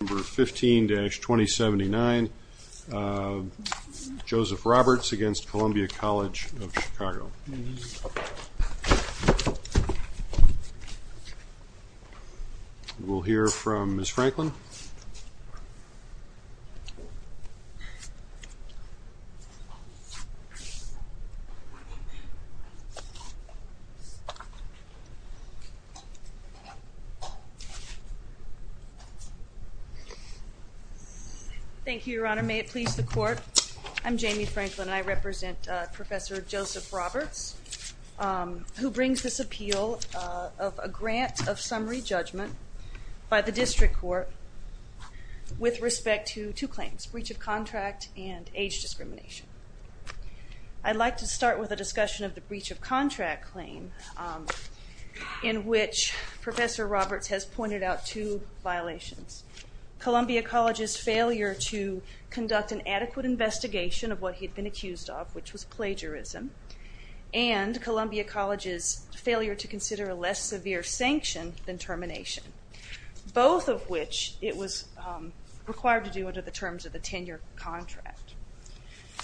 15-2079 Joseph Roberts against Columbia College of Chicago. We'll hear from Ms. Franklin. Thank you, Your Honor. May it please the court. I'm Jamie Franklin and I represent Professor Joseph Roberts who brings this appeal of a grant of summary judgment by the district court with respect to two claims, breach of contract and age discrimination. I'd like to start with a discussion of the breach of contract claim in which Professor Roberts has pointed out two violations. Columbia College's failure to conduct an adequate investigation of what he had been accused of which was plagiarism and Columbia College's failure to consider a less severe sanction than termination. Both of which it was required to do under the terms of the tenure contract.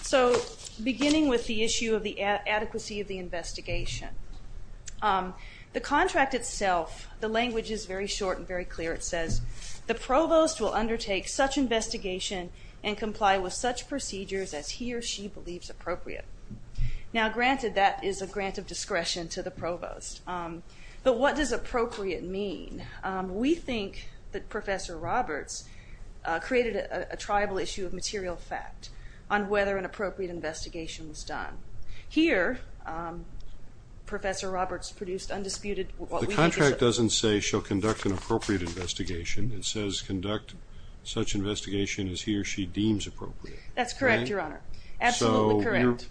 So beginning with the issue of the adequacy of the investigation. The contract itself, the language is very short and very clear. It says the provost will undertake such investigation and comply with such procedures as he or she believes appropriate. Now granted that is a grant of discretion to the provost but what does appropriate mean? We think that Professor Roberts created a tribal issue of material fact on whether an Professor Roberts produced undisputed... The contract doesn't say she'll conduct an appropriate investigation. It says conduct such investigation as he or she deems appropriate. That's correct, your honor. Absolutely correct.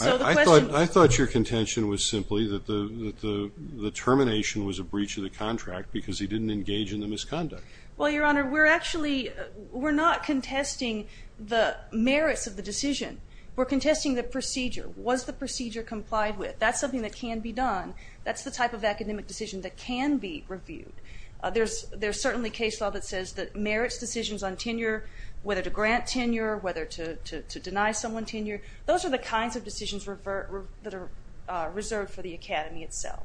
I thought your contention was simply that the termination was a breach of the contract because he didn't engage in the misconduct. Well your honor, we're actually, we're not contesting the merits of the decision. We're contesting the procedure. Was the procedure complied with? That's something that can be done. That's the type of academic decision that can be reviewed. There's certainly case law that says that merits decisions on tenure, whether to grant tenure, whether to deny someone tenure, those are the kinds of decisions that are reserved for the Academy itself.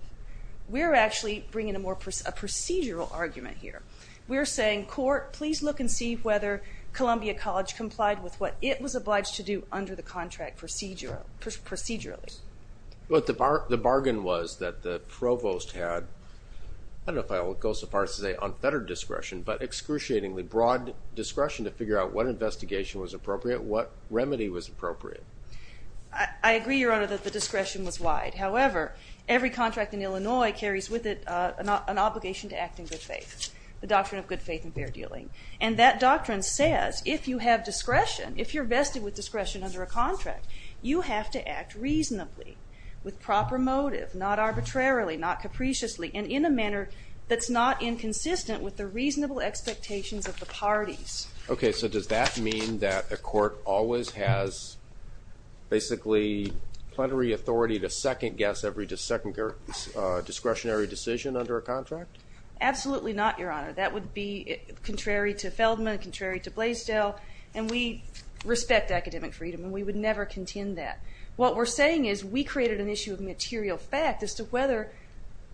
We're actually bringing a more procedural argument here. We're saying court please look and see whether Columbia College complied with what it was obliged to do under the contract procedurally. But the bargain was that the Provost had, I don't know if I'll go so far as to say unfettered discretion, but excruciatingly broad discretion to figure out what investigation was appropriate, what remedy was appropriate. I agree, your honor, that the discretion was wide. However, every contract in Illinois carries with it an obligation to act in good faith, the doctrine of good faith and fair dealing, and that doctrine says if you have discretion, if you're vested with discretion under a contract, you have to act reasonably, with proper motive, not arbitrarily, not capriciously, and in a manner that's not inconsistent with the reasonable expectations of the parties. Okay, so does that mean that a court always has basically plenary authority to second guess every discretionary decision under a contract? Absolutely not, your honor. That would be contrary to Feldman, contrary to Blaisdell, and we respect academic freedom and we would never contend that. What we're saying is we created an issue of material fact as to whether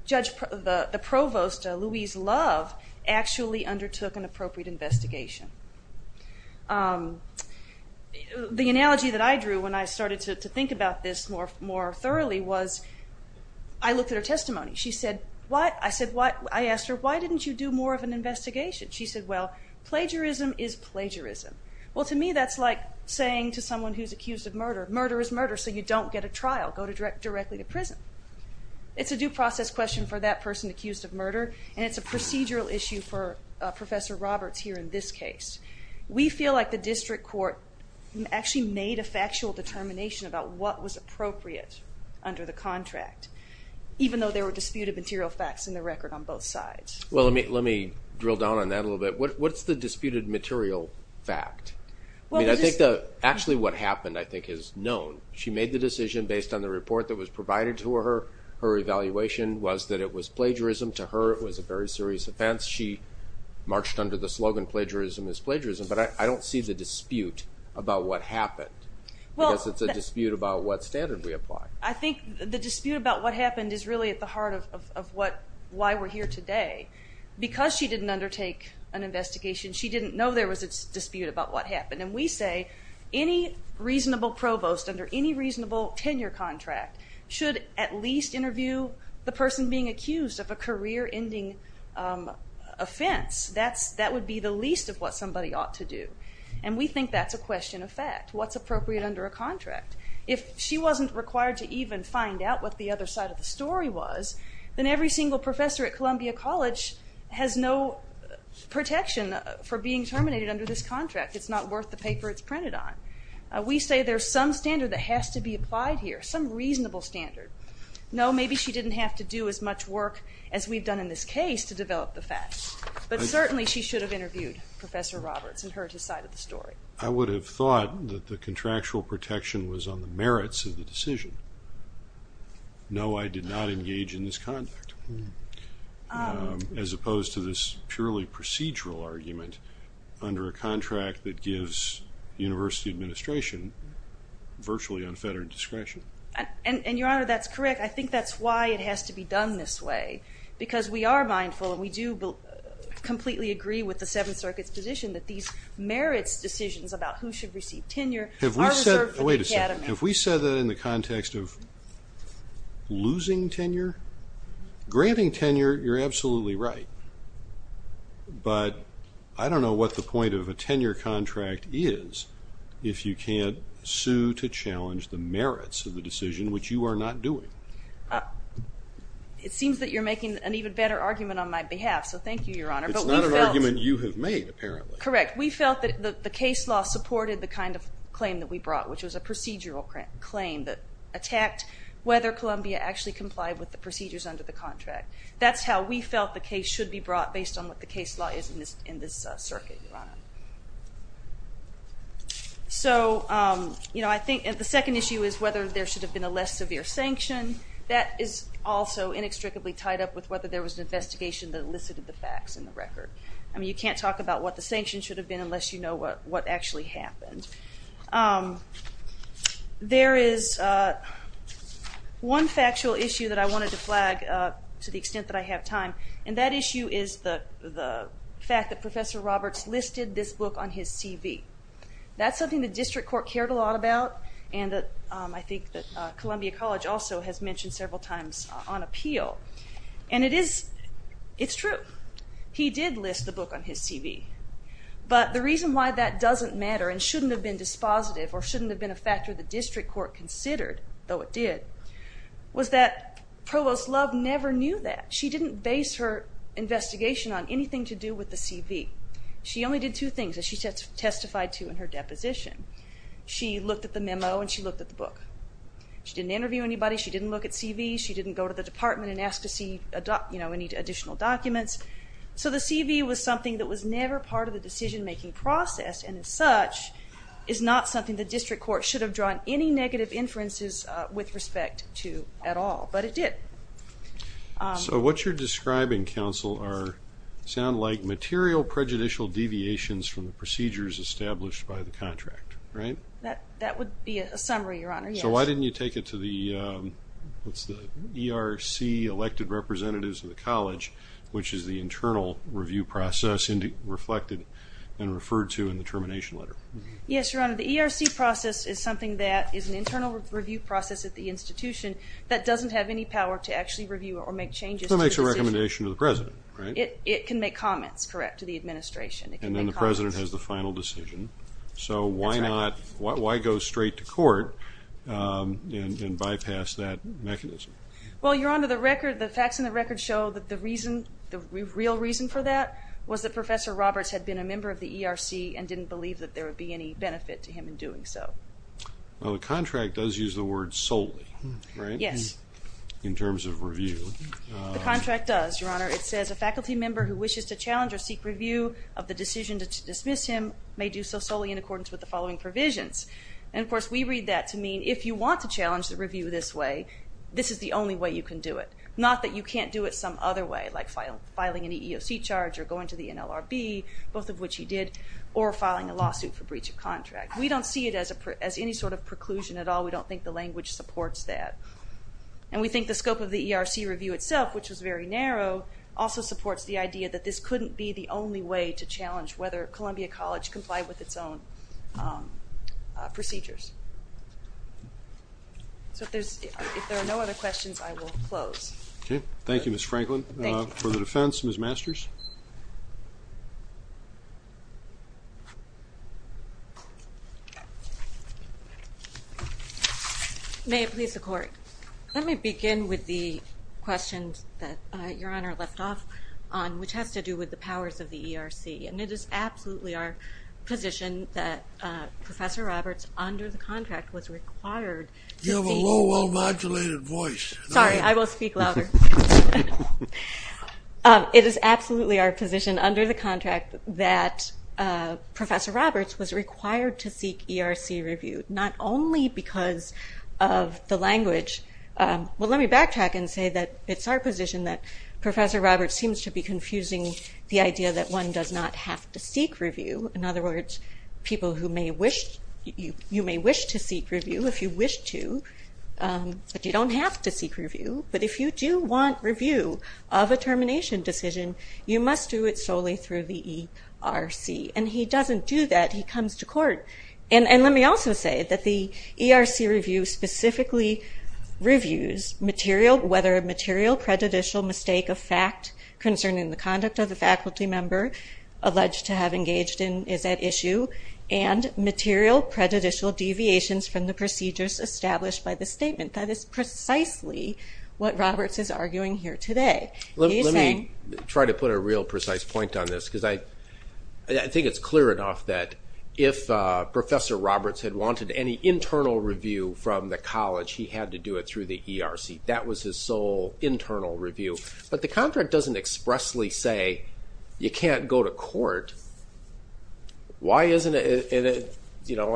the Provost, Louise Love, actually undertook an appropriate investigation. The analogy that I drew when I started to think about this more thoroughly was, I looked at her testimony. She said, what? I asked her, why didn't you do more of an investigation? She said, well, plagiarism is plagiarism. Well, to me that's like saying to someone who's accused of murder, murder is murder, so you don't get a trial, go directly to prison. It's a due process question for that person accused of murder and it's a procedural issue for Professor Roberts here in this case. We feel like the district court actually made a factual determination about what was appropriate under the contract, even though there were disputed material facts in the record on both sides. Well, let me drill down on that a little bit. What's the disputed material fact? Well, I think that actually what happened, I think, is known. She made the decision based on the report that was provided to her. Her evaluation was that it was plagiarism. To her, it was a very serious offense. She marched under the slogan, plagiarism is plagiarism, but I don't see the dispute about what happened. Well, I guess it's a dispute about what standard we apply. I think the dispute about what happened is really at the heart of what, why we're here today. Because she didn't undertake an investigation, she didn't know there was a dispute about what happened. And we say any reasonable provost under any reasonable tenure contract should at least interview the person being accused of a career-ending offense. That would be the least of what somebody ought to do. And we think that's a question of fact. What's appropriate under a contract? If she wasn't required to even find out what the other side of the story was, then every single professor at Columbia College has no protection for being terminated under this contract. It's not worth the paper it's printed on. We say there's some standard that has to be applied here, some reasonable standard. No, maybe she didn't have to do as much work as we've done in this case to develop the facts, but certainly she should have interviewed Professor Roberts and heard his side of the story. I would have thought that the contractual protection was on the merits of the decision. No, I did not engage in this contract, as opposed to this purely procedural argument under a contract that gives the University administration virtually unfettered discretion. And Your Honor, that's correct. I think that's why it has to be done this way, because we are mindful and we do completely agree with the Seventh Circuit's position that these merits decisions about who should receive tenure. Granting tenure, you're absolutely right, but I don't know what the point of a tenure contract is if you can't sue to challenge the merits of the decision, which you are not doing. It seems that you're making an even better argument on my behalf, so thank you, Your Honor. It's not an argument you have made, apparently. Correct. We felt that the case law supported the kind of claim that we brought, which was a procedural claim that attacked whether Columbia actually complied with the procedures under the contract. That's how we felt the case should be brought, based on what the case law is in this in this circuit, Your Honor. So, you know, I think the second issue is whether there should have been a less severe sanction. That is also inextricably tied up with whether there was an investigation that elicited the facts in the record. I mean, you can't talk about what the sanction should have been unless you know what actually happened. There is one factual issue that I wanted to flag, to the extent that I have time, and that issue is the fact that Professor Roberts listed this book on his CV. That's something the district court cared a lot about, and that I think that Columbia College also has mentioned several times on appeal, and it is, it's true. He did list the book on his CV, but the reason why that doesn't matter, and shouldn't have been dispositive, or shouldn't have been a factor the district court considered, though it did, was that Provost Love never knew that. She didn't base her investigation on anything to do with the CV. She only did two things that she testified to in her deposition. She looked at the memo, and she looked at the book. She didn't interview anybody. She didn't look at CVs. She didn't go to the department and ask to see, you know, any additional documents. So the CV was something that was never part of the is not something the district court should have drawn any negative inferences with respect to at all, but it did. So what you're describing, counsel, sound like material prejudicial deviations from the procedures established by the contract, right? That would be a summary, your honor. So why didn't you take it to the, what's the ERC elected representatives of the college, which is the internal review process reflected and referred to in the record? Yes, your honor. The ERC process is something that is an internal review process at the institution that doesn't have any power to actually review or make changes. So it makes a recommendation to the president, right? It can make comments, correct, to the administration. And then the president has the final decision. So why not, why go straight to court and bypass that mechanism? Well, your honor, the record, the facts in the record show that the reason, the real reason for that was that Professor Roberts had been a member of the ERC and didn't believe that there would be any benefit to him in doing so. Well, the contract does use the word solely, right? Yes. In terms of review. The contract does, your honor. It says a faculty member who wishes to challenge or seek review of the decision to dismiss him may do so solely in accordance with the following provisions. And of course, we read that to mean if you want to challenge the review this way, this is the only way you can do it. Not that you can't do it some other way, like filing an EEOC charge or going to the NLRB, both of which he did, or filing a lawsuit for breach of contract. We don't see it as a, as any sort of preclusion at all. We don't think the language supports that. And we think the scope of the ERC review itself, which was very narrow, also supports the idea that this couldn't be the only way to challenge whether Columbia College complied with its own procedures. So if there's, if there are no other questions, I will close. Okay. Thank you, Ms. Franklin. For the defense, Ms. Masters. May it please the court. Let me begin with the questions that your honor left off on, which has to do with the powers of the ERC. And it is absolutely our position that Professor Roberts, under the contract, was required. You have a low modulated voice. Sorry, I will speak louder. It is absolutely our position under the contract that Professor Roberts was required to seek ERC review, not only because of the language. Well, let me backtrack and say that it's our position that Professor Roberts seems to be confusing the idea that one does not have to seek review. In other words, people who may wish, you may wish to seek review if you wish to, but you don't have to seek review. But if you do want review of a termination decision, you must do it solely through the ERC. And he doesn't do that. He comes to court. And let me also say that the ERC review specifically reviews whether a material prejudicial mistake of fact concerning the conduct of the faculty member alleged to have engaged in is at issue, and material prejudicial deviations from the procedures established by the statement. That is precisely what Roberts is arguing here today. Let me try to put a real precise point on this, because I think it's clear enough that if Professor Roberts had wanted any internal review from the college, he had to do it through the ERC. That was his sole internal review. But the contract doesn't expressly say you can't go to court. Why isn't it, you know,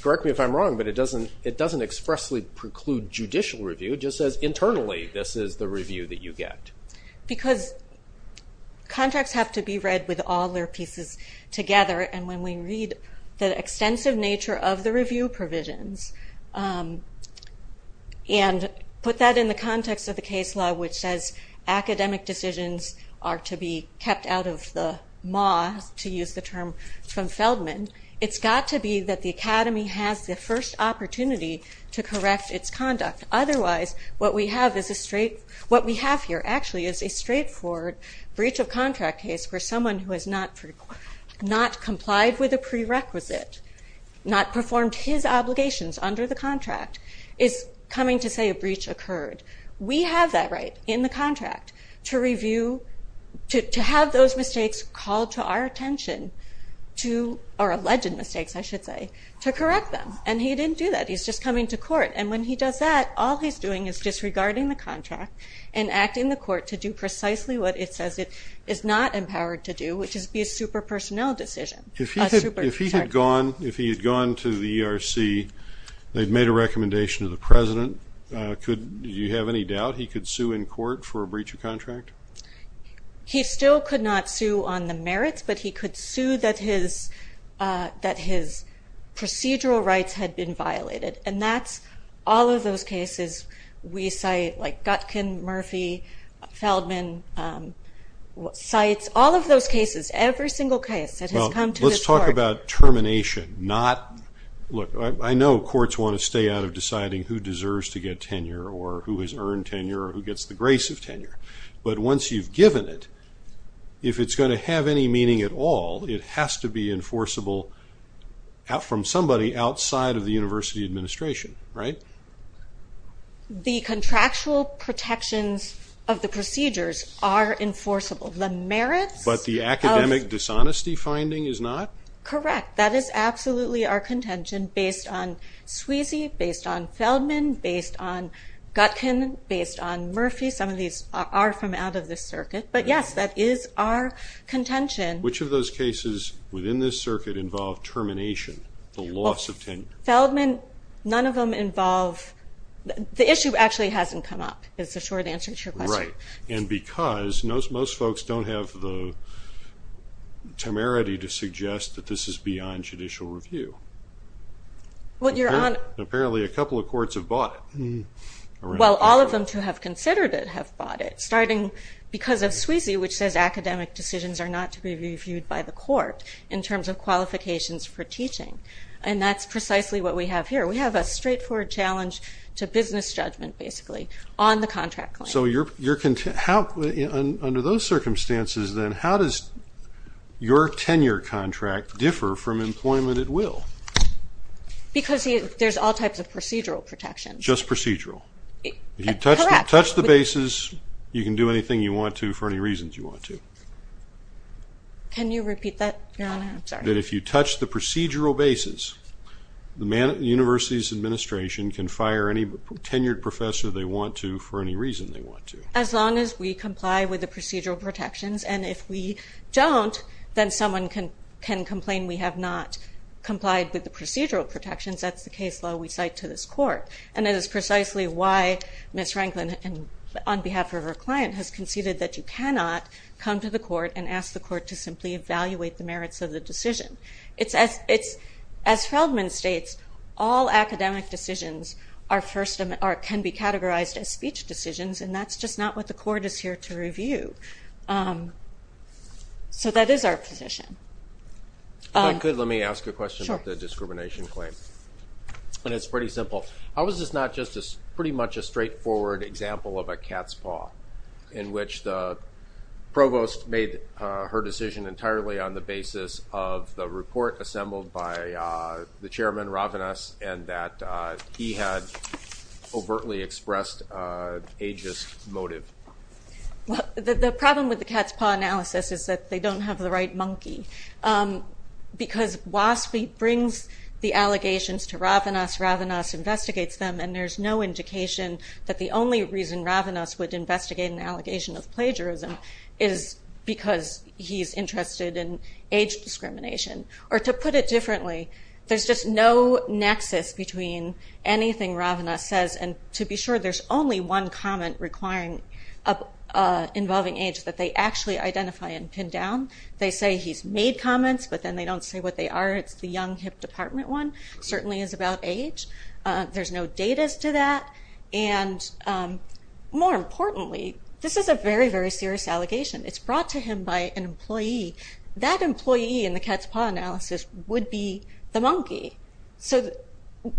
correct me if I'm wrong, but it doesn't expressly preclude judicial review. It just says internally this is the review that you get. Because contracts have to be read with all their pieces together. And when we read the extensive nature of the review provisions, and put that in the context of the case law which says academic decisions are to be kept out of the maw, to use the term from Feldman, it's got to be that the Academy has the first opportunity to correct its conduct. Otherwise what we have is a straight, what we have here actually is a straightforward breach of contract case where someone who has not complied with a prerequisite, not performed his obligations under the contract, is coming to say a breach occurred. We have that right in the to, or alleged mistakes I should say, to correct them. And he didn't do that. He's just coming to court. And when he does that, all he's doing is disregarding the contract and acting the court to do precisely what it says it is not empowered to do, which is be a super personnel decision. If he had gone, if he had gone to the ERC, they've made a recommendation to the president, could, do you have any doubt he could sue in court for a breach of contract? He still could not sue on the merits, but he could sue that his, that his procedural rights had been violated. And that's all of those cases we cite, like Gutkin, Murphy, Feldman, Seitz, all of those cases, every single case that has come to this court. Let's talk about termination, not, look, I know courts want to stay out of deciding who deserves to get tenure, or who has earned tenure, or who gets the If it's going to have any meaning at all, it has to be enforceable from somebody outside of the university administration, right? The contractual protections of the procedures are enforceable. The merits of- But the academic dishonesty finding is not? Correct. That is absolutely our contention based on Sweezy, based on Feldman, based on Gutkin, based on Murphy. Some of these are from out of the our contention. Which of those cases within this circuit involve termination, the loss of tenure? Feldman, none of them involve, the issue actually hasn't come up, is the short answer to your question. Right. And because most folks don't have the temerity to suggest that this is beyond judicial review. Well, you're on- Apparently a couple of courts have bought it. Well, all of them who have considered it have bought it, starting because of academic decisions are not to be reviewed by the court, in terms of qualifications for teaching. And that's precisely what we have here. We have a straightforward challenge to business judgment, basically, on the contract claim. So you're, under those circumstances then, how does your tenure contract differ from employment at will? Because there's all types of procedural protections. Just procedural? Correct. If you touch the bases, you can do anything you want to for any reasons you want to. Can you repeat that, Your Honor? I'm sorry. That if you touch the procedural bases, the man at the university's administration can fire any tenured professor they want to, for any reason they want to. As long as we comply with the procedural protections. And if we don't, then someone can complain we have not complied with the procedural protections. That's the case law we cite to this court. And it is precisely why Ms. Franklin, on behalf of her client, has conceded that you cannot come to the court and ask the court to simply evaluate the merits of the decision. As Feldman states, all academic decisions are first, or can be categorized as speech decisions, and that's just not what the court is here to review. So that is our position. If I could, let me ask a question about the discrimination claim. Sure. And it's pretty simple. How is this not just pretty much a straightforward example of a cat's paw, in which the provost made her decision entirely on the basis of the report assembled by the chairman, Ravanas, and that he had overtly expressed ageist motive? The problem with the cat's paw analysis is that they don't have the right monkey. Because WASPI brings the allegations to Ravanas, Ravanas investigates them, and there's no indication that the only reason Ravanas would investigate an allegation of plagiarism is because he's interested in age discrimination. Or to put it differently, there's just no nexus between anything Ravanas says. And to be sure, there's only one comment involving age that they actually identify and pin down. They say he's made comments, but then they don't say what they are. It's the young, hip department one, certainly is about age. There's no datas to that. And more importantly, this is a very, very serious allegation. It's brought to him by an employee. That employee in the cat's paw analysis would be the monkey. So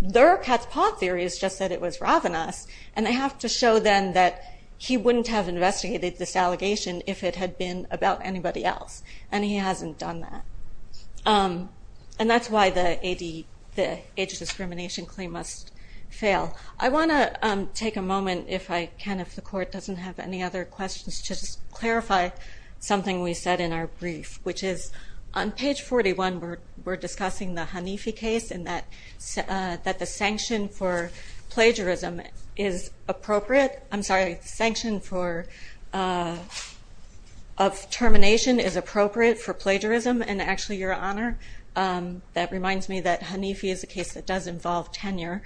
their cat's paw theory is just that it was Ravanas, and they have to show them that he wouldn't have investigated this allegation if it had been about anybody else. And he hasn't done that. And that's why the age discrimination claim must fail. I want to take a moment, if I can, if the court doesn't have any other questions, to clarify something we said in our brief, which is on page 41, we're discussing the Hanifi case and that the sanction for plagiarism is appropriate. I'm sorry. The sanction of termination is appropriate for plagiarism. And actually, Your Honor, that reminds me that Hanifi is a case that does involve tenure.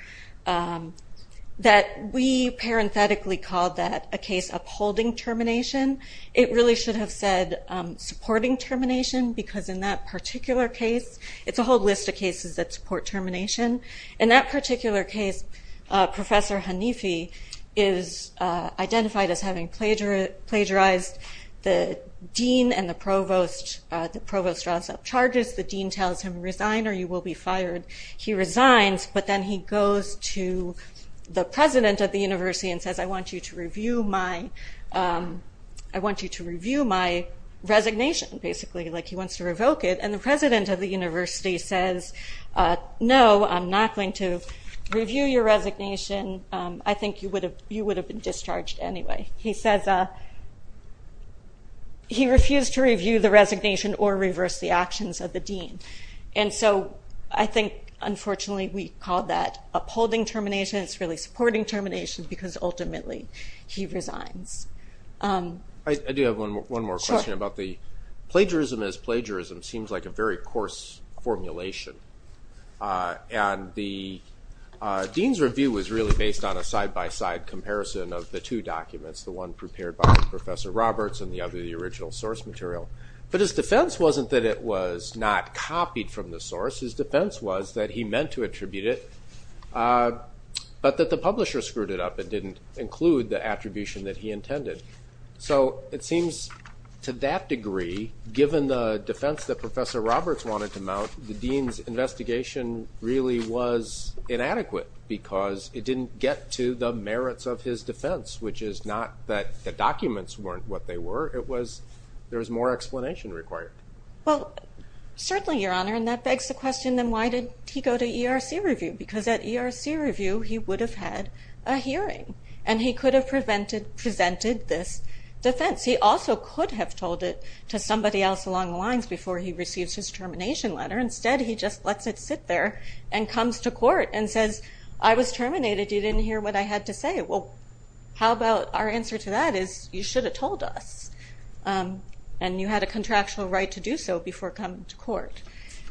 That we parenthetically called that a case upholding termination. It really should have said supporting termination, because in that particular case, it's a whole list of cases that support termination. In that particular case, Professor Hanifi is identified as having plagiarized the dean and the provost. The provost draws up charges. The dean tells him, resign or you will be fired. He resigns, but then he goes to the president of the university and says, I want you to review my resignation, basically. He wants to revoke it. And the president of the university says, no, I'm not going to review your resignation. I think you would have been discharged anyway. He says, he refused to review the resignation or reverse the actions of the dean. And so I think, unfortunately, we called that upholding termination. It's really supporting termination, because ultimately, he resigns. I do have one more question. Plagiarism as plagiarism seems like a very coarse formulation. And the dean's review was really based on a side-by-side comparison of the two documents, the one prepared by Professor Roberts and the other, the original source material. But his defense wasn't that it was not copied from the source. His defense was that he meant to attribute it, but that the publisher screwed it up and didn't include the attribution that he intended. So it seems, to that degree, given the defense that Professor Roberts wanted to mount, the dean's investigation really was inadequate, because it didn't get to the merits of his defense, which is not that the documents weren't what they were. It was there was more explanation required. Well, certainly, Your Honor. And that begs the question, then, why did he go to ERC review? Because at ERC review, he would have had a hearing. And he could have presented this defense. He also could have told it to somebody else along the lines before he receives his termination letter. Instead, he just lets it sit there and comes to court and says, I was terminated. You didn't hear what I had to say. Well, how about our answer to that is, you should have told us. And you had a contractual right to do so before coming to court.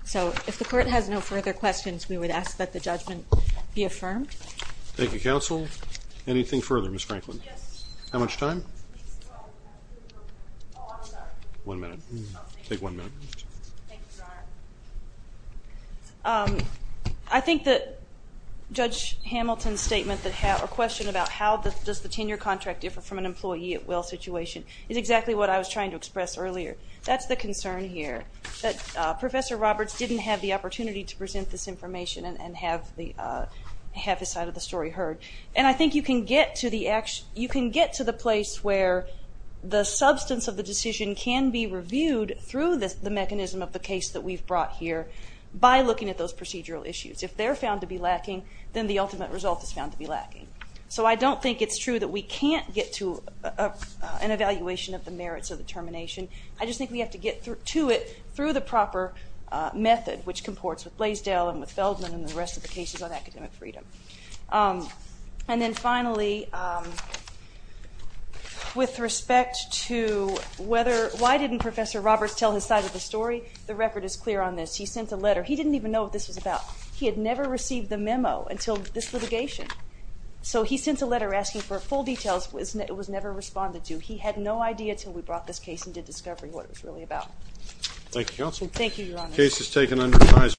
So if the court has no further questions, we would ask that the judgment be affirmed. Thank you, counsel. Anything further, Ms. Franklin? Yes. How much time? Oh, I'm sorry. One minute. Oh, thank you. Take one minute. Thank you, Your Honor. I think that Judge Hamilton's statement or question about how does the tenure contract differ from an employee at will situation is exactly what I was trying to express earlier. That's the concern here, that Professor Roberts didn't have the opportunity to present this And I think you can get to the place where the substance of the decision can be reviewed through the mechanism of the case that we've brought here by looking at those procedural issues. If they're found to be lacking, then the ultimate result is found to be lacking. So I don't think it's true that we can't get to an evaluation of the merits of the termination. I just think we have to get to it through the proper method, which comports with Blaisdell and with Feldman and the rest of the cases on academic freedom. And then finally, with respect to why didn't Professor Roberts tell his side of the story, the record is clear on this. He sent a letter. He didn't even know what this was about. He had never received the memo until this litigation. So he sent a letter asking for full details. It was never responded to. He had no idea until we brought this case and did discovery what it was really about. Thank you, Counsel. Thank you, Your Honor.